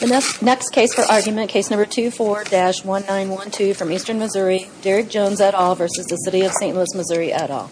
The next case for argument, case number 24-1912 from Eastern Missouri, Derrick Jones et al. v. City of St. Louis, Missouri et al.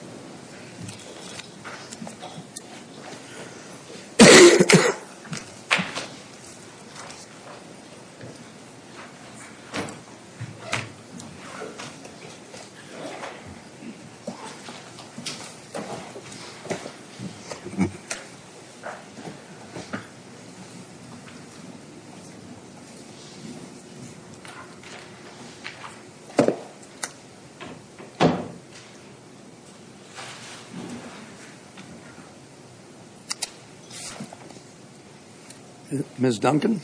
Miss Duncan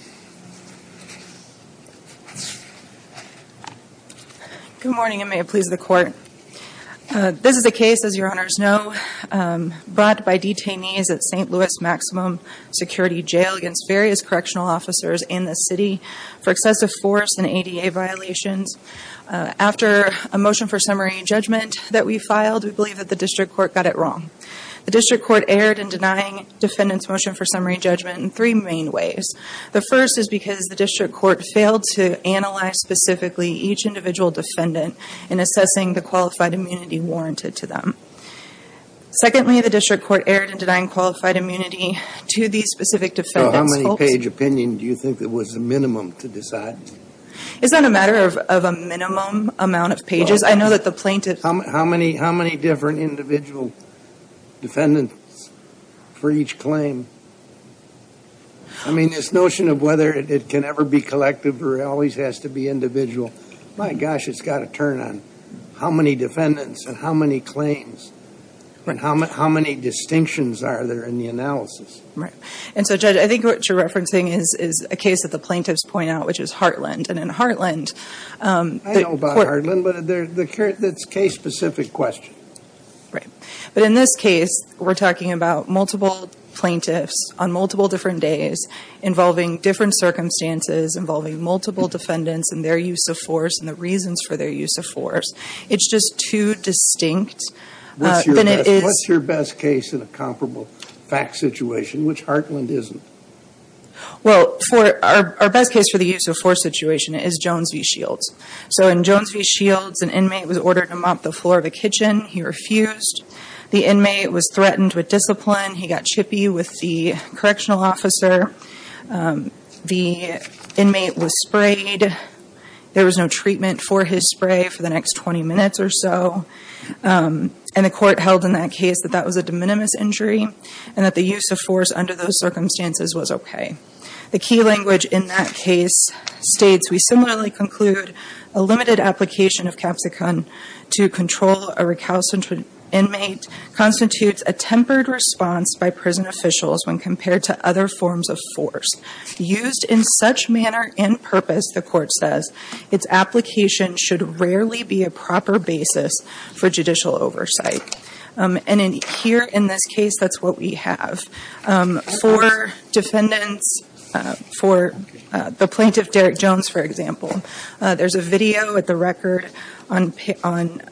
Good morning and may it please the court. This is a case, as your honors know, brought by detainees at St. Louis Maximum Security Jail against various correctional officers in the city for excessive force and ADA violations. After a motion for summary and judgment that we filed, we believe that the district court got it wrong. The district court erred in denying defendants motion for summary and judgment in three main ways. The first is because the district court failed to analyze specifically each individual defendant in assessing the qualified immunity warranted to them. Secondly, the district court erred in denying qualified immunity to these specific defendants. So how many page opinion do you think there was a minimum to decide? Is that a matter of a minimum amount of pages? I know that the plaintiff How many different individual defendants for each claim? I mean, this notion of whether it can ever be collective or it always has to be individual, my gosh, it's got to turn on. How many defendants and how many claims and how many distinctions are there in the analysis? And so, Judge, I think what you're referencing is a case that the plaintiffs point out, which is Heartland. I know about Heartland, but it's a case specific question. Right. But in this case, we're talking about multiple plaintiffs on multiple different days involving different circumstances, involving multiple defendants and their use of force and the reasons for their use of force. It's just too distinct. What's your best case in a comparable fact situation, which Heartland isn't? Well, for our best case for the use of force situation is Jones v. Shields. So in Jones v. Shields, an inmate was ordered to mop the floor of the kitchen. He refused. The inmate was threatened with discipline. He got chippy with the correctional officer. The inmate was sprayed. There was no treatment for his spray for the next 20 minutes or so. And the court held in that case that that was a de minimis injury and that the use of force under those circumstances was OK. The key language in that case states, we similarly conclude a limited application of capsicum to control a recalcitrant inmate constitutes a tempered response by prison officials when compared to other forms of force used in such manner and purpose. The court says its application should rarely be a proper basis for judicial oversight. And in here, in this case, that's what we have for defendants. For the plaintiff, Derek Jones, for example, there's a video at the record on on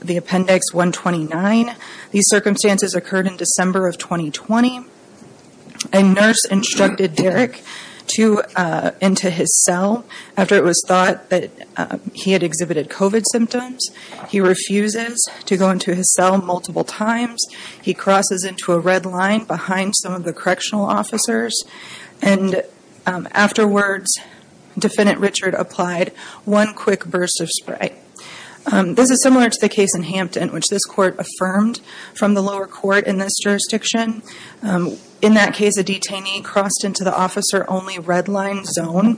the Appendix 129. These circumstances occurred in December of 2020. A nurse instructed Derek to into his cell after it was thought that he had exhibited COVID symptoms. He refuses to go into his cell multiple times. He crosses into a red line behind some of the correctional officers. And afterwards, Defendant Richard applied one quick burst of spray. This is similar to the case in Hampton, which this court affirmed from the lower court in this jurisdiction. In that case, a detainee crossed into the officer only red line zone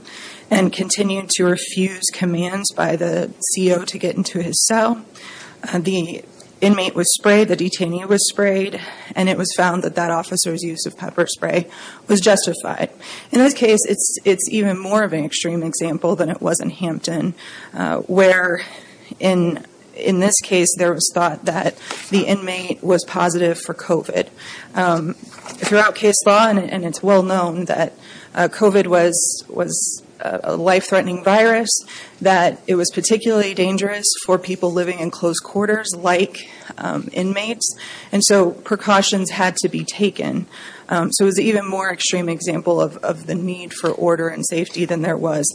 and continued to refuse commands by the CO to get into his cell. The inmate was sprayed, the detainee was sprayed, and it was found that that officer's use of pepper spray was justified. In this case, it's it's even more of an extreme example than it was in Hampton, where in in this case, there was thought that the inmate was positive for COVID. Throughout case law, and it's well known that COVID was was a life threatening virus, that it was particularly dangerous for people living in close quarters like inmates. And so precautions had to be taken. So it was even more extreme example of the need for order and safety than there was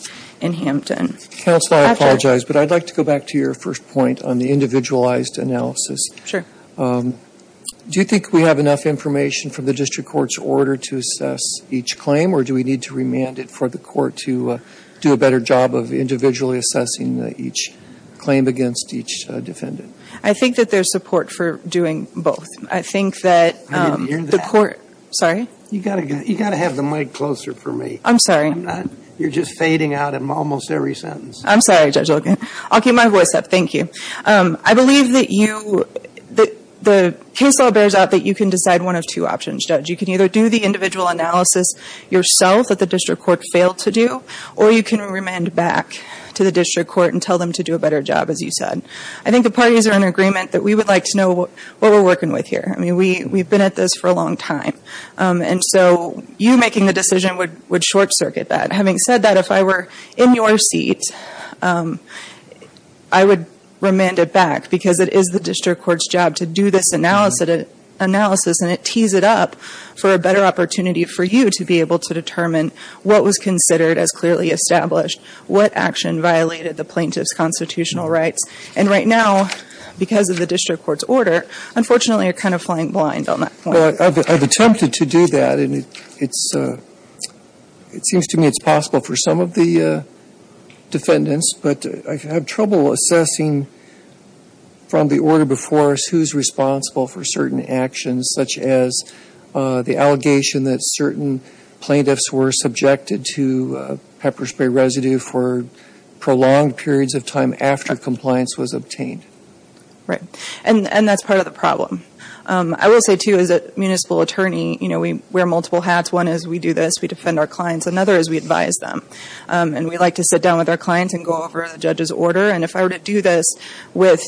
in Hampton. Counsel, I apologize, but I'd like to go back to your first point on the individualized analysis. Sure. Do you think we have enough information from the district court's order to assess each claim? Or do we need to remand it for the court to do a better job of individually assessing each claim against each defendant? I think that there's support for doing both. I think that the court. Sorry, you got to you got to have the mic closer for me. I'm sorry. You're just fading out of almost every sentence. I'm sorry. I'll get my voice up. Thank you. I believe that you that the case all bears out that you can decide one of two options. You can either do the individual analysis yourself at the district court failed to do, or you can remand back to the district court and tell them to do a better job. As you said, I think the parties are in agreement that we would like to know what we're working with here. I mean, we we've been at this for a long time. And so you making the decision would would short circuit that. Having said that, if I were in your seat, I would remand it back because it is the district court's job to do this analysis analysis. And it tees it up for a better opportunity for you to be able to determine what was considered as clearly established. What action violated the plaintiff's constitutional rights? And right now, because of the district court's order, unfortunately, you're kind of flying blind on that. I've attempted to do that. And it's it seems to me it's possible for some of the defendants. But I have trouble assessing from the order before us who's responsible for certain actions, such as the allegation that certain plaintiffs were subjected to pepper spray residue for prolonged periods of time after compliance was obtained. Right. And that's part of the problem. I will say, too, as a municipal attorney, you know, we wear multiple hats. One is we do this. We defend our clients. Another is we advise them. And we like to sit down with our clients and go over the judge's order. And if I were to do this with,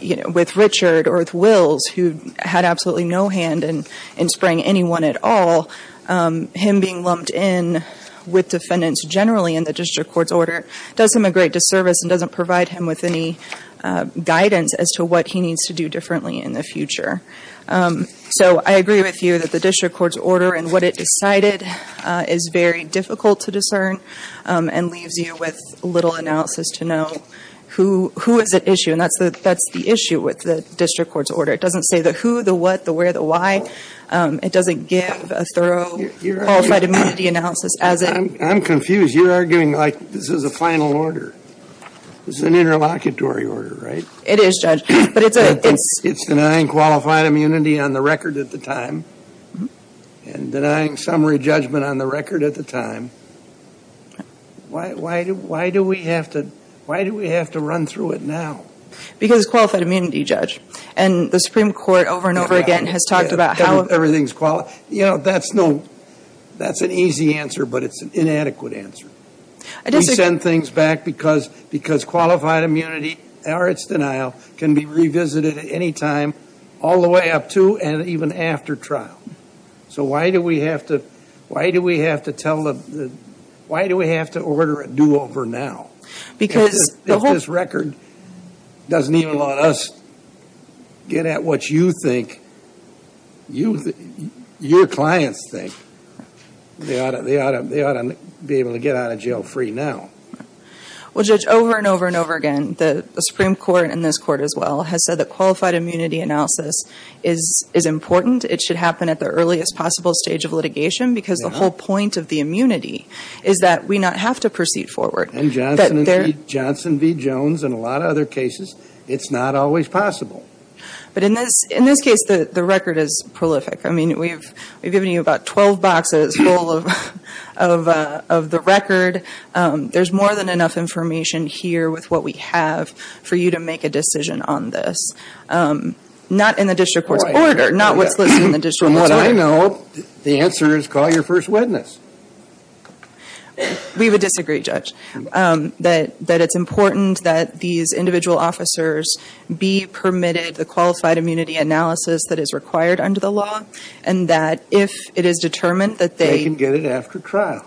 you know, with Richard or with Wills, who had absolutely no hand in spraying anyone at all, him being lumped in with defendants generally in the district court's order does him a great disservice and doesn't provide him with any guidance as to what he needs to do differently in the future. So I agree with you that the district court's order and what it decided is very difficult to discern and leaves you with little analysis to know who who is at issue. And that's the that's the issue with the district court's order. It doesn't say the who, the what, the where, the why. It doesn't give a thorough qualified immunity analysis as I'm confused. You're arguing like this is a final order. It's an interlocutory order, right? It is, Judge. It's denying qualified immunity on the record at the time and denying summary judgment on the record at the time. Why do we have to why do we have to run through it now? Because it's qualified immunity, Judge. And the Supreme Court over and over again has talked about how. Everything's qualified. You know, that's no that's an easy answer, but it's an inadequate answer. We send things back because because qualified immunity or its denial can be revisited at any time all the way up to and even after trial. So why do we have to why do we have to tell them why do we have to order a do over now? If this record doesn't even let us get at what you think, your clients think, they ought to be able to get out of jail free now. Well, Judge, over and over and over again, the Supreme Court and this court as well has said that qualified immunity analysis is important. It should happen at the earliest possible stage of litigation because the whole point of the immunity is that we not have to proceed forward. And Johnson and Johnson v. Jones and a lot of other cases, it's not always possible. But in this in this case, the record is prolific. I mean, we've we've given you about 12 boxes full of of of the record. There's more than enough information here with what we have for you to make a decision on this. Not in the district court order, not what's listed in the district. From what I know, the answer is call your first witness. We would disagree, Judge, that that it's important that these individual officers be permitted the qualified immunity analysis that is required under the law. And that if it is determined that they can get it after trial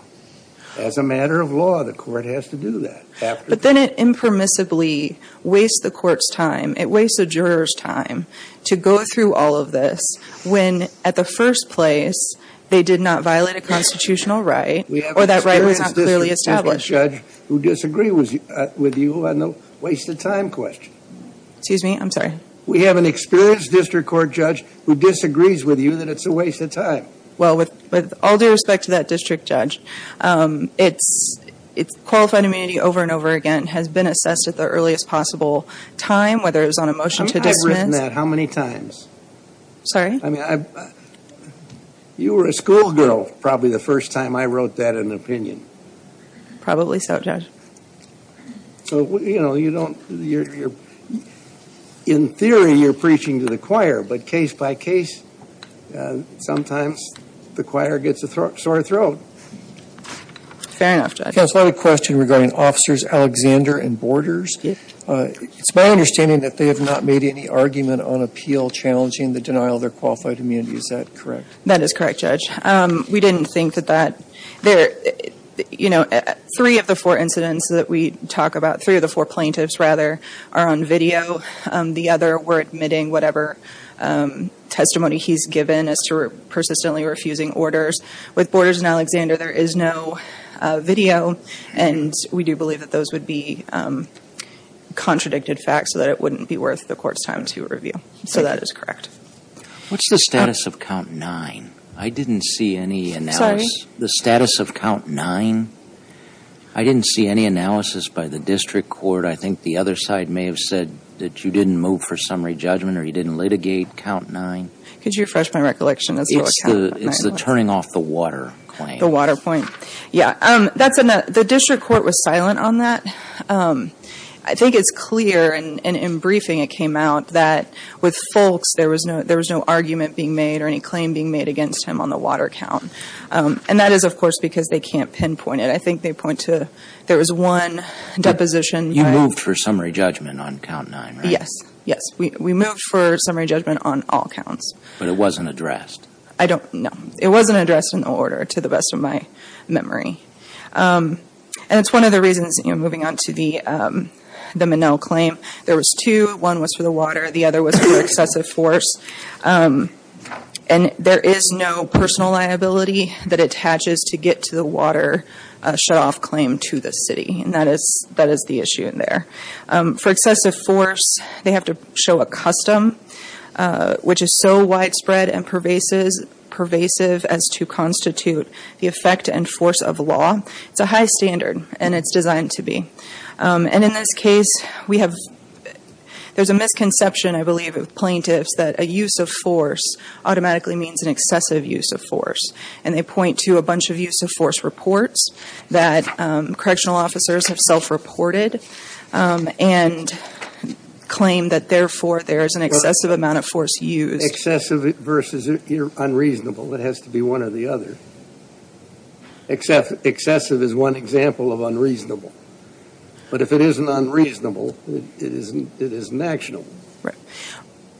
as a matter of law, the court has to do that. But then it impermissibly wastes the court's time. It wastes a juror's time to go through all of this when at the first place they did not violate a constitutional right or that right was clearly established. Who disagree with you on the wasted time question? Excuse me. I'm sorry. We have an experienced district court judge who disagrees with you that it's a waste of time. Well, with all due respect to that district judge, it's it's qualified immunity over and over again has been assessed at the earliest possible time, whether it was on a motion to dismiss. How many times? Sorry? I mean, you were a schoolgirl probably the first time I wrote that in an opinion. Probably so, Judge. So, you know, you don't you're in theory you're preaching to the choir, but case by case, sometimes the choir gets a sore throat. Fair enough. I have a question regarding officers Alexander and Borders. It's my understanding that they have not made any argument on appeal challenging the denial of their qualified immunity. Is that correct? That is correct, Judge. We didn't think that that there, you know, three of the four incidents that we talk about, three of the four plaintiffs, rather, are on video. The other were admitting whatever testimony he's given as to persistently refusing orders with Borders and Alexander. There is no video. And we do believe that those would be contradicted facts so that it wouldn't be worth the court's time to review. So that is correct. What's the status of count nine? I didn't see any analysis. The status of count nine. I didn't see any analysis by the district court. I think the other side may have said that you didn't move for summary judgment or you didn't litigate count nine. Could you refresh my recollection as to what count nine was? It's the turning off the water claim. The water point. Yeah. The district court was silent on that. I think it's clear, and in briefing it came out, that with Foulkes there was no argument being made or any claim being made against him on the water count. And that is, of course, because they can't pinpoint it. I think they point to there was one deposition. You moved for summary judgment on count nine, right? Yes. Yes. We moved for summary judgment on all counts. But it wasn't addressed. I don't know. It wasn't addressed in order, to the best of my memory. And it's one of the reasons, you know, moving on to the Minnell claim. There was two. One was for the water. The other was for excessive force. And there is no personal liability that attaches to get to the water shutoff claim to the city. And that is the issue in there. For excessive force, they have to show a custom, which is so widespread and pervasive as to constitute the effect and force of law. It's a high standard, and it's designed to be. And in this case, we have – there's a misconception, I believe, of plaintiffs that a use of force automatically means an excessive use of force. And they point to a bunch of use of force reports that correctional officers have self-reported and claim that, therefore, there is an excessive amount of force used. Excessive versus unreasonable. It has to be one or the other. Excessive is one example of unreasonable. But if it isn't unreasonable, it isn't actionable.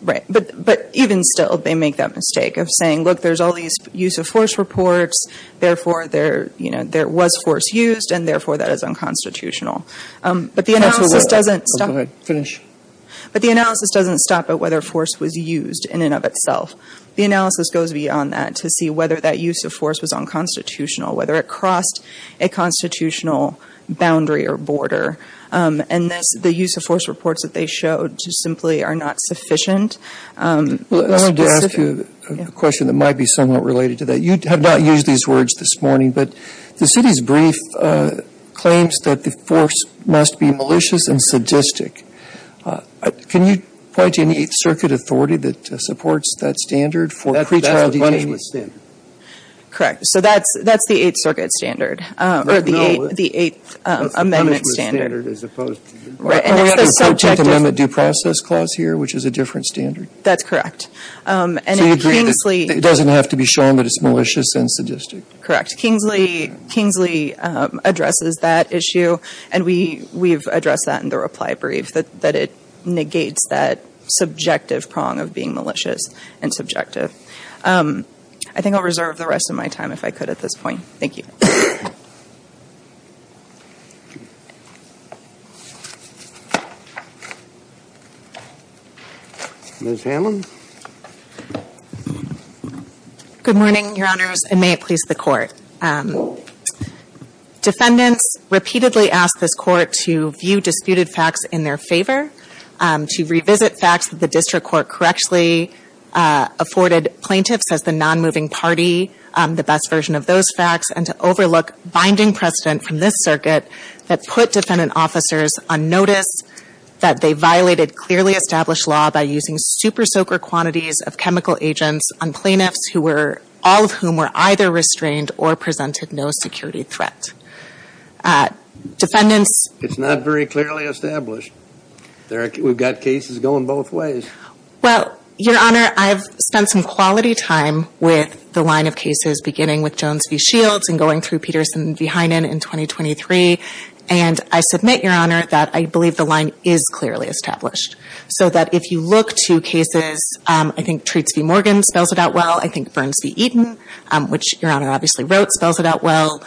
Right. But even still, they make that mistake of saying, look, there's all these use of force reports. Therefore, there was force used, and therefore, that is unconstitutional. But the analysis doesn't – Go ahead. Finish. But the analysis doesn't stop at whether force was used in and of itself. The analysis goes beyond that to see whether that use of force was unconstitutional, whether it crossed a constitutional boundary or border. And thus, the use of force reports that they showed simply are not sufficient. I wanted to ask you a question that might be somewhat related to that. You have not used these words this morning, but the city's brief claims that the force must be malicious and sadistic. Can you point to any Eighth Circuit authority that supports that standard for pretrial detainees? Correct. So that's the Eighth Circuit standard. No. Or the Eighth Amendment standard. That's the punishment standard as opposed to the – Right. And it's the subjective – And we have to protect the Amendment Due Process Clause here, which is a different standard. That's correct. So you agree that it doesn't have to be shown that it's malicious and sadistic? Correct. Kingsley addresses that issue, and we've addressed that in the reply brief, that it negates that subjective prong of being malicious and subjective. I think I'll reserve the rest of my time if I could at this point. Thank you. Ms. Hammond? Good morning, Your Honors, and may it please the Court. Defendants repeatedly ask this Court to view disputed facts in their favor, to revisit facts that the district court correctly afforded plaintiffs as the non-moving party, the best version of those facts, and to overlook binding precedent from this circuit that put defendant officers on notice that they violated clearly established law by using super-soaker quantities of chemical agents on plaintiffs who were – all of whom were either restrained or presented no security threat. Defendants – It's not very clearly established. We've got cases going both ways. Well, Your Honor, I've spent some quality time with the line of cases beginning with Jones v. Shields and going through Peterson v. Heinen in 2023, and I submit, Your Honor, that I believe the line is clearly established, so that if you look to cases – I think Treats v. Morgan spells it out well. I think Burns v. Eaton, which Your Honor obviously wrote, spells it out well,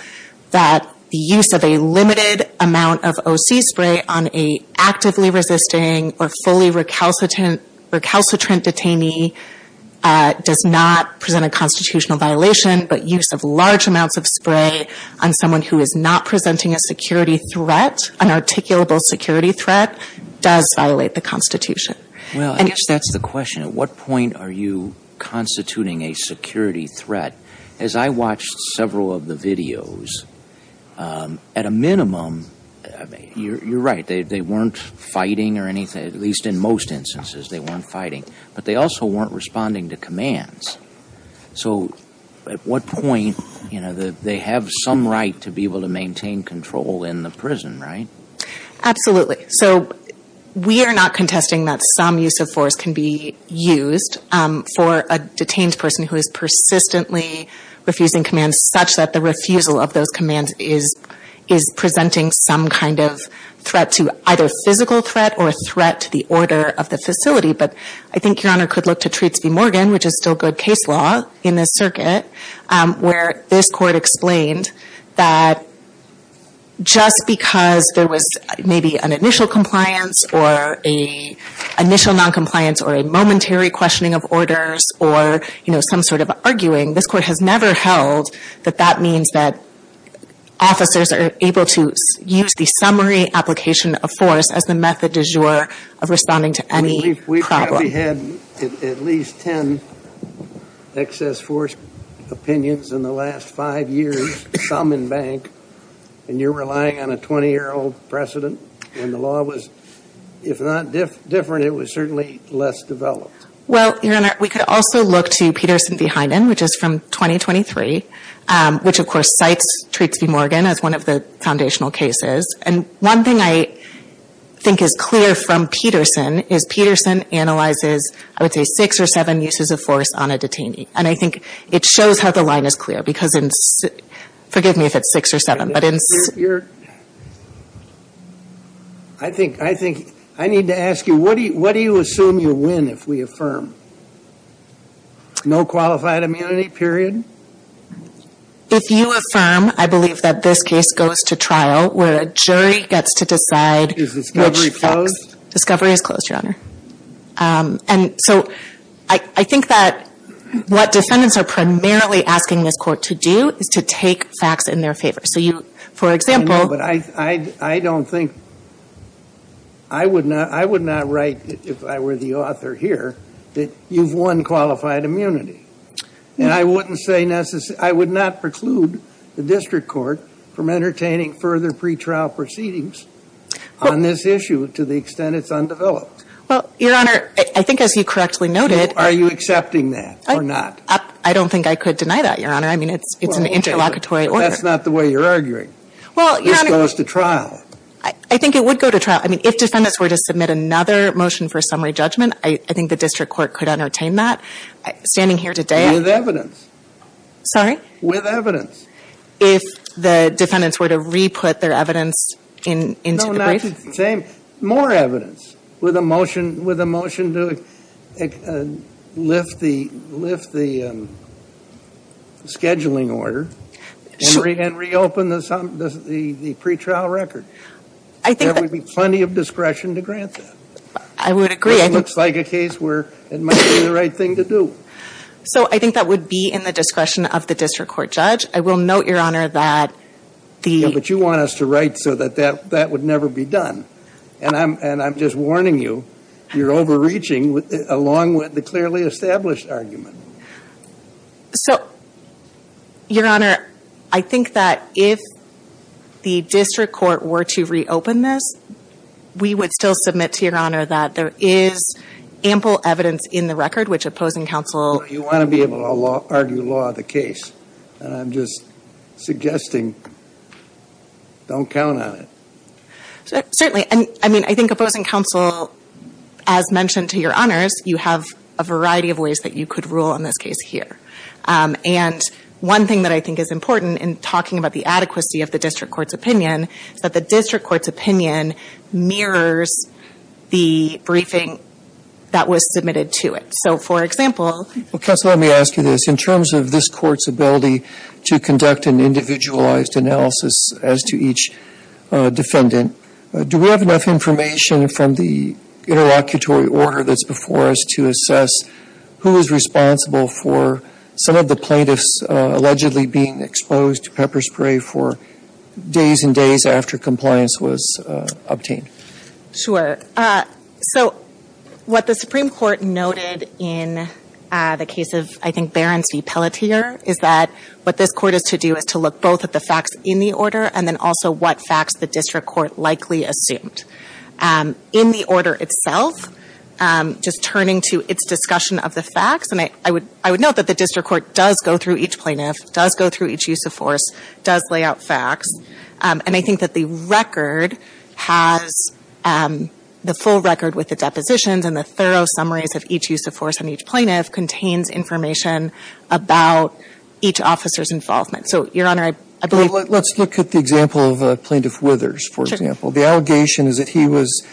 that the use of a limited amount of O.C. spray on an actively resisting or fully recalcitrant detainee does not present a constitutional violation, but use of large amounts of spray on someone who is not presenting a security threat, an articulable security threat, does violate the Constitution. Well, I guess that's the question. At what point are you constituting a security threat? As I watched several of the videos, at a minimum – you're right. They weren't fighting or anything, at least in most instances they weren't fighting, but they also weren't responding to commands. So at what point – they have some right to be able to maintain control in the prison, right? Absolutely. So we are not contesting that some use of force can be used for a detained person who is persistently refusing commands such that the refusal of those commands is presenting some kind of threat to either physical threat or a threat to the order of the facility. But I think Your Honor could look to Treats v. Morgan, which is still good case law in this circuit, where this court explained that just because there was maybe an initial compliance or an initial noncompliance or a momentary questioning of orders or some sort of arguing, this court has never held that that means that officers are able to use the summary application of force as the method du jour of responding to any problem. We've probably had at least 10 excess force opinions in the last five years, some in bank, and you're relying on a 20-year-old precedent? And the law was, if not different, it was certainly less developed. Well, Your Honor, we could also look to Peterson v. Heinen, which is from 2023, which of course cites Treats v. Morgan as one of the foundational cases. And one thing I think is clear from Peterson is Peterson analyzes, I would say, six or seven uses of force on a detainee. And I think it shows how the line is clear, because in – forgive me if it's six or seven, but in – Your – I think – I need to ask you, what do you assume you win if we affirm? No qualified immunity, period? If you affirm, I believe that this case goes to trial, where a jury gets to decide which – Discovery is closed, Your Honor. And so I think that what defendants are primarily asking this court to do is to take facts in their favor. So you, for example – But I don't think – I would not write, if I were the author here, that you've won qualified immunity. And I wouldn't say – I would not preclude the district court from entertaining further pretrial proceedings on this issue, to the extent it's undeveloped. Well, Your Honor, I think as you correctly noted – Are you accepting that or not? I don't think I could deny that, Your Honor. I mean, it's an interlocutory order. Well, okay, but that's not the way you're arguing. Well, Your Honor – This goes to trial. I think it would go to trial. I mean, if defendants were to submit another motion for summary judgment, I think the district court could entertain that. Standing here today – With evidence. Sorry? With evidence. If the defendants were to re-put their evidence into the brief? More evidence with a motion to lift the scheduling order and reopen the pretrial record. There would be plenty of discretion to grant that. I would agree. It looks like a case where it might be the right thing to do. So I think that would be in the discretion of the district court judge. I will note, Your Honor, that the – And I'm just warning you, you're overreaching along with the clearly established argument. So, Your Honor, I think that if the district court were to reopen this, we would still submit to Your Honor that there is ample evidence in the record which opposing counsel – You want to be able to argue law of the case. And I'm just suggesting don't count on it. Certainly. I mean, I think opposing counsel, as mentioned to Your Honors, you have a variety of ways that you could rule in this case here. And one thing that I think is important in talking about the adequacy of the district court's opinion is that the district court's opinion mirrors the briefing that was submitted to it. So, for example – Counsel, let me ask you this. In terms of this court's ability to conduct an individualized analysis as to each defendant, do we have enough information from the interlocutory order that's before us to assess who is responsible for some of the plaintiffs allegedly being exposed to pepper spray for days and days after compliance was obtained? Sure. So, what the Supreme Court noted in the case of, I think, Behrens v. Pelletier is that what this court is to do is to look both at the facts in the order and then also what facts the district court likely assumed. In the order itself, just turning to its discussion of the facts, and I would note that the district court does go through each plaintiff, does go through each use of force, does lay out facts. And I think that the record has – the full record with the depositions and the thorough summaries of each use of force on each plaintiff contains information about each officer's involvement. So, Your Honor, I believe – Let's look at the example of Plaintiff Withers, for example. The allegation is that he was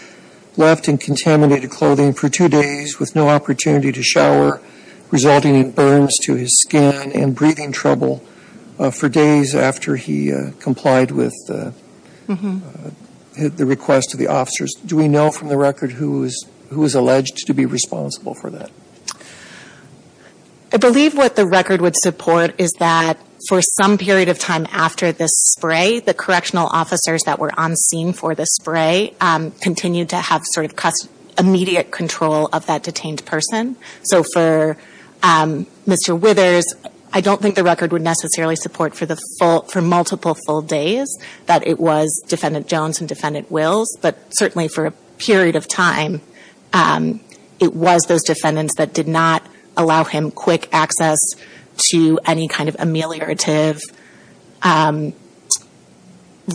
left in contaminated clothing for two days with no opportunity to shower, resulting in burns to his skin and breathing trouble for days after he complied with the request of the officers. Do we know from the record who is alleged to be responsible for that? I believe what the record would support is that for some period of time after the spray, the correctional officers that were on scene for the spray continued to have sort of immediate control of that detained person. So for Mr. Withers, I don't think the record would necessarily support for the full – for multiple full days that it was Defendant Jones and Defendant Wills. But certainly for a period of time, it was those defendants that did not allow him quick access to any kind of ameliorative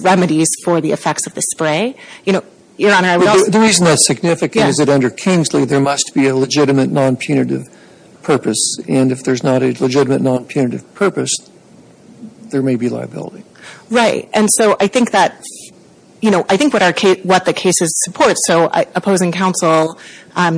remedies for the effects of the spray. You know, Your Honor, I would also – The reason that's significant is that under Kingsley, there must be a legitimate non-punitive purpose. And if there's not a legitimate non-punitive purpose, there may be liability. Right. And so I think that – you know, I think what our – what the cases support – so opposing counsel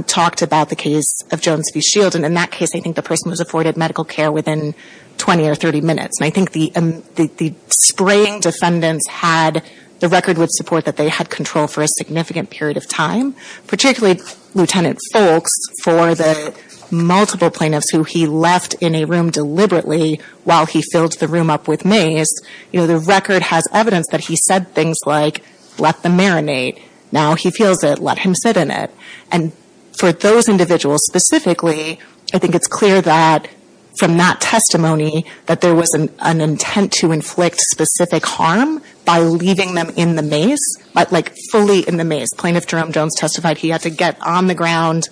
talked about the case of Jones v. Shield. And in that case, I think the person was afforded medical care within 20 or 30 minutes. And I think the spraying defendants had – the record would support that they had control for a significant period of time. Particularly, Lieutenant Foulkes, for the multiple plaintiffs who he left in a room deliberately while he filled the room up with mace, you know, the record has evidence that he said things like, let them marinate. Now he feels it. Let him sit in it. And for those individuals specifically, I think it's clear that from that testimony that there was an intent to inflict specific harm by leaving them in the mace, like fully in the mace. Plaintiff Jerome Jones testified he had to get on the ground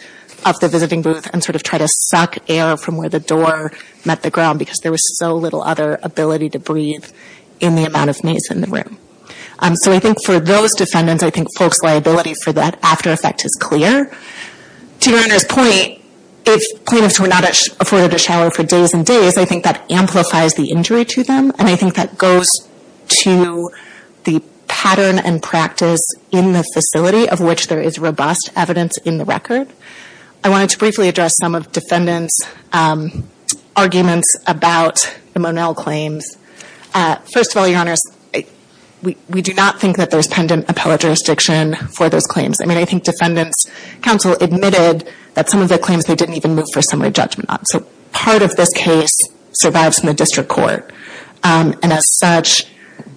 of the visiting booth and sort of try to suck air from where the door met the ground because there was so little other ability to breathe in the amount of mace in the room. So I think for those defendants, I think Foulkes' liability for that after effect is clear. To Your Honor's point, if plaintiffs were not afforded a shower for days and days, I think that amplifies the injury to them. And I think that goes to the pattern and practice in the facility of which there is robust evidence in the record. I wanted to briefly address some of defendants' arguments about the Monell claims. First of all, Your Honors, we do not think that there's pendant appellate jurisdiction for those claims. I mean, I think defendants' counsel admitted that some of the claims they didn't even move for summary judgment on. So part of this case survives in the district court. And as such,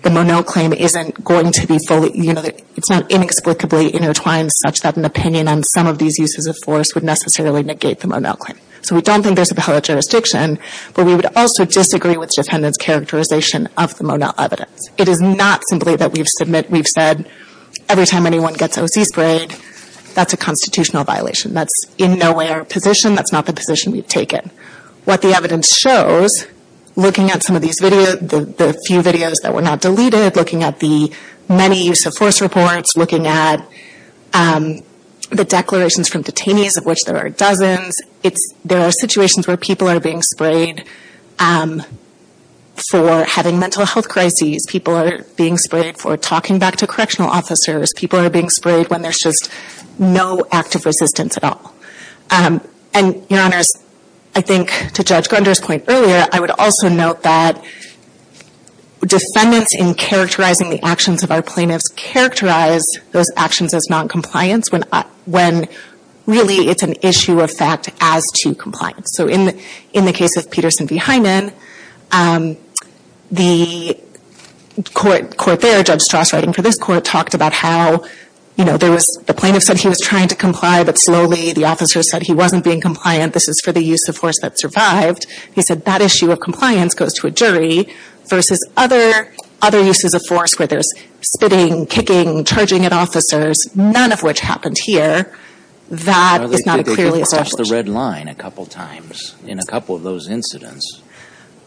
the Monell claim isn't going to be fully, you know, it's not inexplicably intertwined such that an opinion on some of these uses of force would necessarily negate the Monell claim. So we don't think there's appellate jurisdiction, but we would also disagree with defendants' characterization of the Monell evidence. It is not simply that we've said every time anyone gets O.C. sprayed, that's a constitutional violation. That's in no way our position. That's not the position we've taken. What the evidence shows, looking at some of these videos, the few videos that were not deleted, looking at the many use of force reports, looking at the declarations from detainees, of which there are dozens, there are situations where people are being sprayed for having mental health crises. People are being sprayed for talking back to correctional officers. People are being sprayed when there's just no active resistance at all. And, Your Honors, I think to Judge Grunder's point earlier, I would also note that defendants in characterizing the actions of our plaintiffs characterize those actions as noncompliance when really it's an issue of fact as to compliance. So in the case of Peterson v. Hyndman, the court there, Judge Strass writing for this court, talked about how the plaintiff said he was trying to comply, but slowly the officer said he wasn't being compliant. This is for the use of force that survived. He said that issue of compliance goes to a jury versus other uses of force where there's spitting, kicking, charging at officers, none of which happened here. That is not clearly established. They crossed the red line a couple times in a couple of those incidents.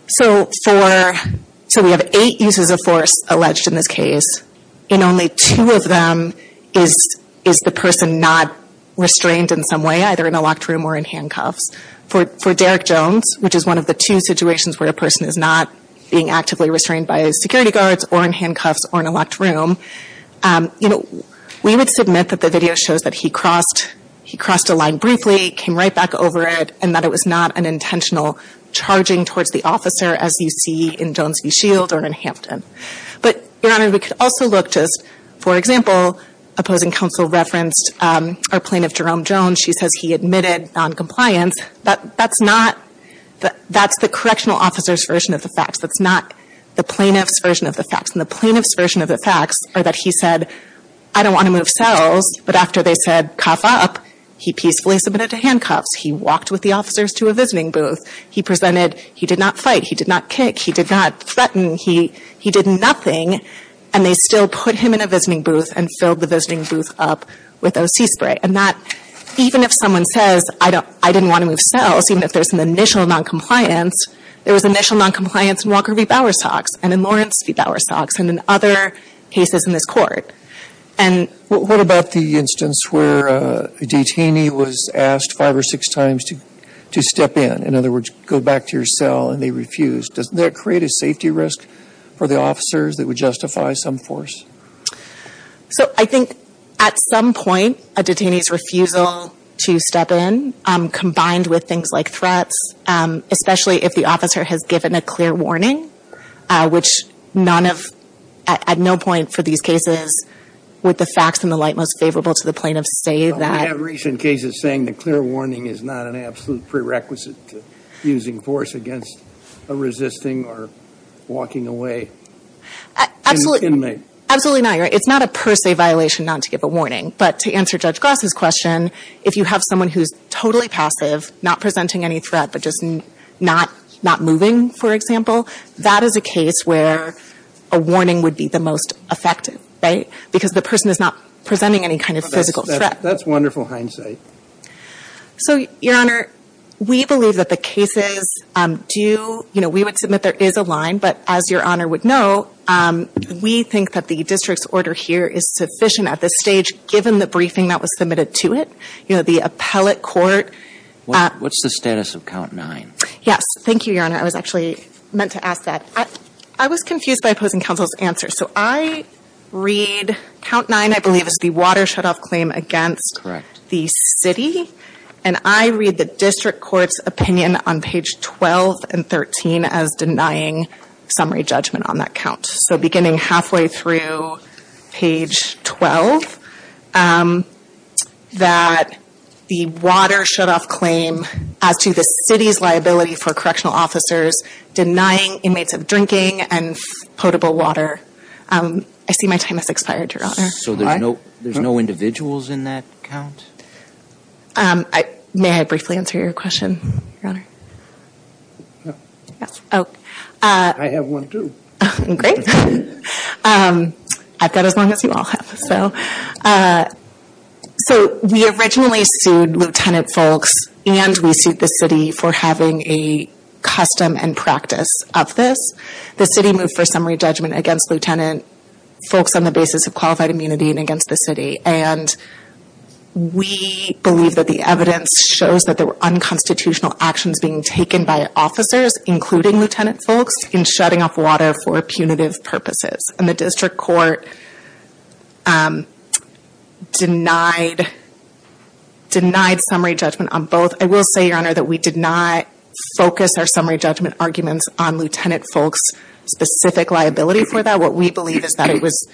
So we have eight uses of force alleged in this case, and only two of them is the person not restrained in some way, either in a locked room or in handcuffs. For Derek Jones, which is one of the two situations where a person is not being actively restrained by his security guards or in handcuffs or in a locked room, we would submit that the video shows that he crossed a line briefly, came right back over it, and that it was not an intentional charging towards the officer, as you see in Jones v. Shield or in Hampton. But, Your Honor, we could also look just, for example, opposing counsel referenced our plaintiff, Jerome Jones. He says he admitted noncompliance, but that's not the correctional officer's version of the facts. That's not the plaintiff's version of the facts, and the plaintiff's version of the facts are that he said, I don't want to move cells, but after they said cough up, he peacefully submitted to handcuffs. He walked with the officers to a visiting booth. He presented he did not fight. He did not kick. He did not threaten. He did nothing, and they still put him in a visiting booth and filled the visiting booth up with O.C. spray. And that, even if someone says, I don't, I didn't want to move cells, even if there's an initial noncompliance, there was initial noncompliance in Walker v. Bowersox and in Lawrence v. Bowersox and in other cases in this Court. And What about the instance where a detainee was asked five or six times to step in? In other words, go back to your cell, and they refused. Doesn't that create a safety risk for the officers that would justify some force? So I think at some point, a detainee's refusal to step in, combined with things like threats, especially if the officer has given a clear warning, which none of, at no point for these cases, would the facts in the light most favorable to the plaintiff say that. We have recent cases saying the clear warning is not an absolute prerequisite to using force against a resisting or walking away inmate. Absolutely not. It's not a per se violation not to give a warning. But to answer Judge Gross's question, if you have someone who's totally passive, not presenting any threat, but just not moving, for example, that is a case where a warning would be the most effective, right? Because the person is not presenting any kind of physical threat. That's wonderful hindsight. So, Your Honor, we believe that the cases do, you know, we would submit there is a line, but as Your Honor would know, we think that the district's order here is sufficient at this stage, given the briefing that was submitted to it. You know, the appellate court. What's the status of count nine? Yes. Thank you, Your Honor. I was actually meant to ask that. I was confused by opposing counsel's answer. So I read count nine, I believe, as the water shutoff claim against the city. And I read the district court's opinion on page 12 and 13 as denying summary judgment on that count. So beginning halfway through page 12, that the water shutoff claim as to the city's liability for correctional officers denying inmates of drinking and potable water. I see my time has expired, Your Honor. So there's no individuals in that count? May I briefly answer your question, Your Honor? No. Yes. I have one too. Great. I've got as long as you all have. So we originally sued Lieutenant Folks and we sued the city for having a custom and practice of this. The city moved for summary judgment against Lieutenant Folks on the basis of qualified immunity and against the city. And we believe that the evidence shows that there were unconstitutional actions being taken by officers, including Lieutenant Folks, in shutting off water for punitive purposes. And the district court denied summary judgment on both. I will say, Your Honor, that we did not focus our summary judgment arguments on Lieutenant Folks' specific liability for that. What we believe is that it was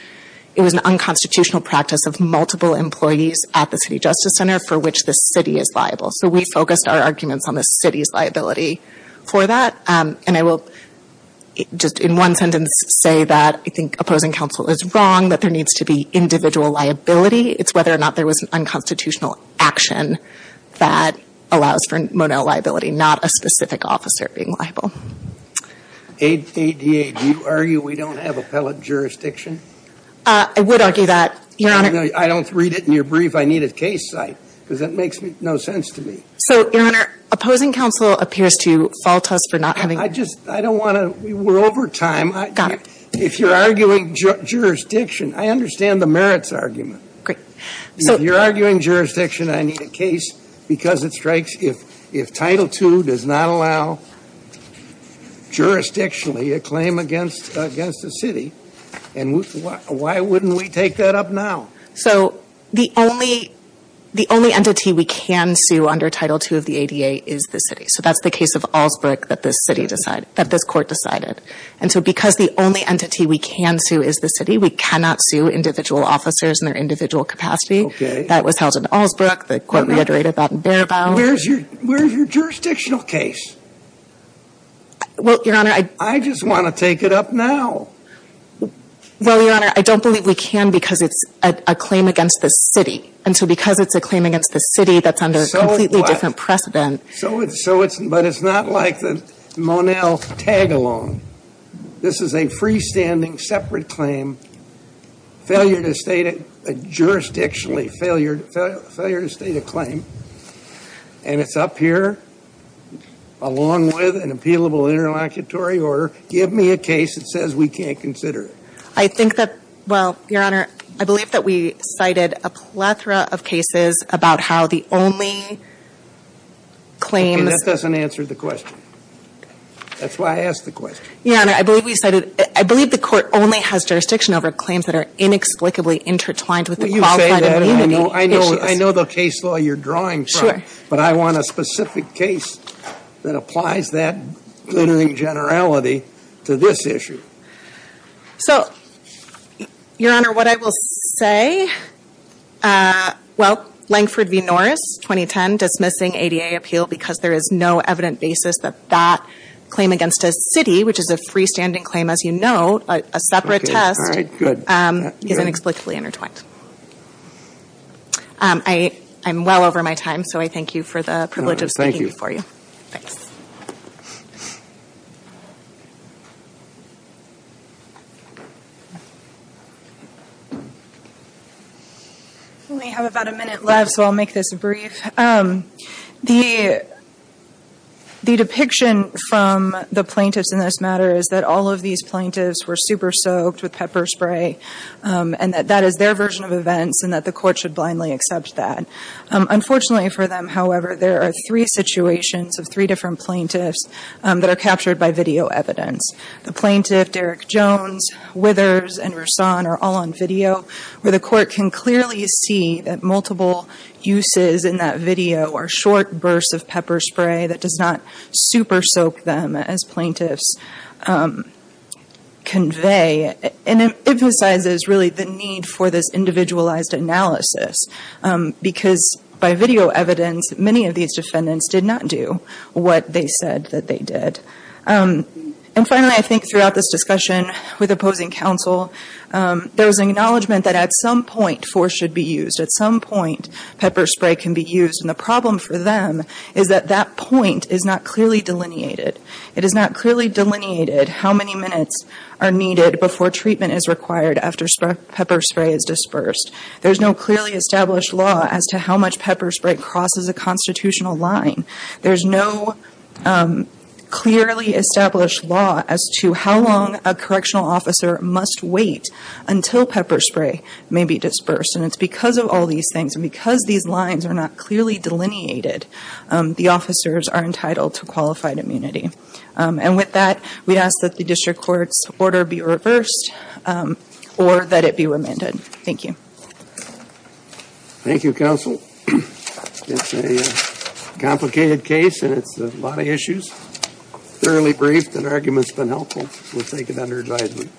an unconstitutional practice of multiple employees at the city justice center for which the city is liable. So we focused our arguments on the city's liability for that. And I will just in one sentence say that I think opposing counsel is wrong, that there needs to be individual liability. It's whether or not there was an unconstitutional action that allows for Monell liability, not a specific officer being liable. A.D.A., do you argue we don't have appellate jurisdiction? I would argue that, Your Honor. I don't read it in your brief. I need a case site, because that makes no sense to me. So, Your Honor, opposing counsel appears to fault us for not having ---- I just don't want to ---- we're over time. Got it. If you're arguing jurisdiction, I understand the merits argument. Great. If you're arguing jurisdiction, I need a case because it strikes if Title II does not allow jurisdictionally a claim against a city, and why wouldn't we take that up now? So the only entity we can sue under Title II of the A.D.A. is the city. So that's the case of Allsbrick that this city decided ---- that this court decided. And so because the only entity we can sue is the city, we cannot sue individual officers in their individual capacity. That was held in Allsbrick. The court reiterated that in Barabow. Where's your jurisdictional case? Well, Your Honor, I ---- I just want to take it up now. Well, Your Honor, I don't believe we can because it's a claim against the city. And so because it's a claim against the city that's under a completely different precedent ---- So it's ---- but it's not like the Monell tag-along. This is a freestanding separate claim, failure to state it jurisdictionally, failure to state a claim. And it's up here along with an appealable interlocutory order. Give me a case that says we can't consider it. I think that, well, Your Honor, I believe that we cited a plethora of cases about how the only claims ---- That doesn't answer the question. That's why I asked the question. Your Honor, I believe we cited ---- I believe the court only has jurisdiction over claims that are inexplicably intertwined with the qualified immunity issues. Well, you say that, and I know the case law you're drawing from. Sure. But I want a specific case that applies that literary generality to this issue. So, Your Honor, what I will say, well, Langford v. Norris, 2010, dismissing ADA appeal because there is no evident basis that that claim against a city, which is a freestanding claim, as you know, a separate test, isn't explicitly intertwined. I'm well over my time, so I thank you for the privilege of speaking before you. Thanks. Thank you. We have about a minute left, so I'll make this brief. The depiction from the plaintiffs in this matter is that all of these plaintiffs were super-soaked with pepper spray and that that is their version of events and that the court should blindly accept that. Unfortunately for them, however, there are three situations of three different plaintiffs that are captured by video evidence. The plaintiff, Derek Jones, Withers, and Roussan, are all on video, where the court can clearly see that multiple uses in that video are short bursts of pepper spray that does not super-soak them, as plaintiffs convey. And it emphasizes, really, the need for this individualized analysis, because by video evidence, many of these defendants did not do what they said that they did. And finally, I think throughout this discussion with opposing counsel, there was an acknowledgment that at some point, force should be used. At some point, pepper spray can be used. And the problem for them is that that point is not clearly delineated. It is not clearly delineated how many minutes are needed before treatment is required after pepper spray is dispersed. There is no clearly established law as to how much pepper spray crosses a constitutional line. There is no clearly established law as to how long a correctional officer must wait until pepper spray may be dispersed. And it's because of all these things, and because these lines are not clearly delineated, the officers are entitled to qualified immunity. And with that, we ask that the district court's order be reversed or that it be remanded. Thank you. Thank you, counsel. It's a complicated case, and it's a lot of issues. Thoroughly briefed, that argument's been helpful. We'll take it under advisement.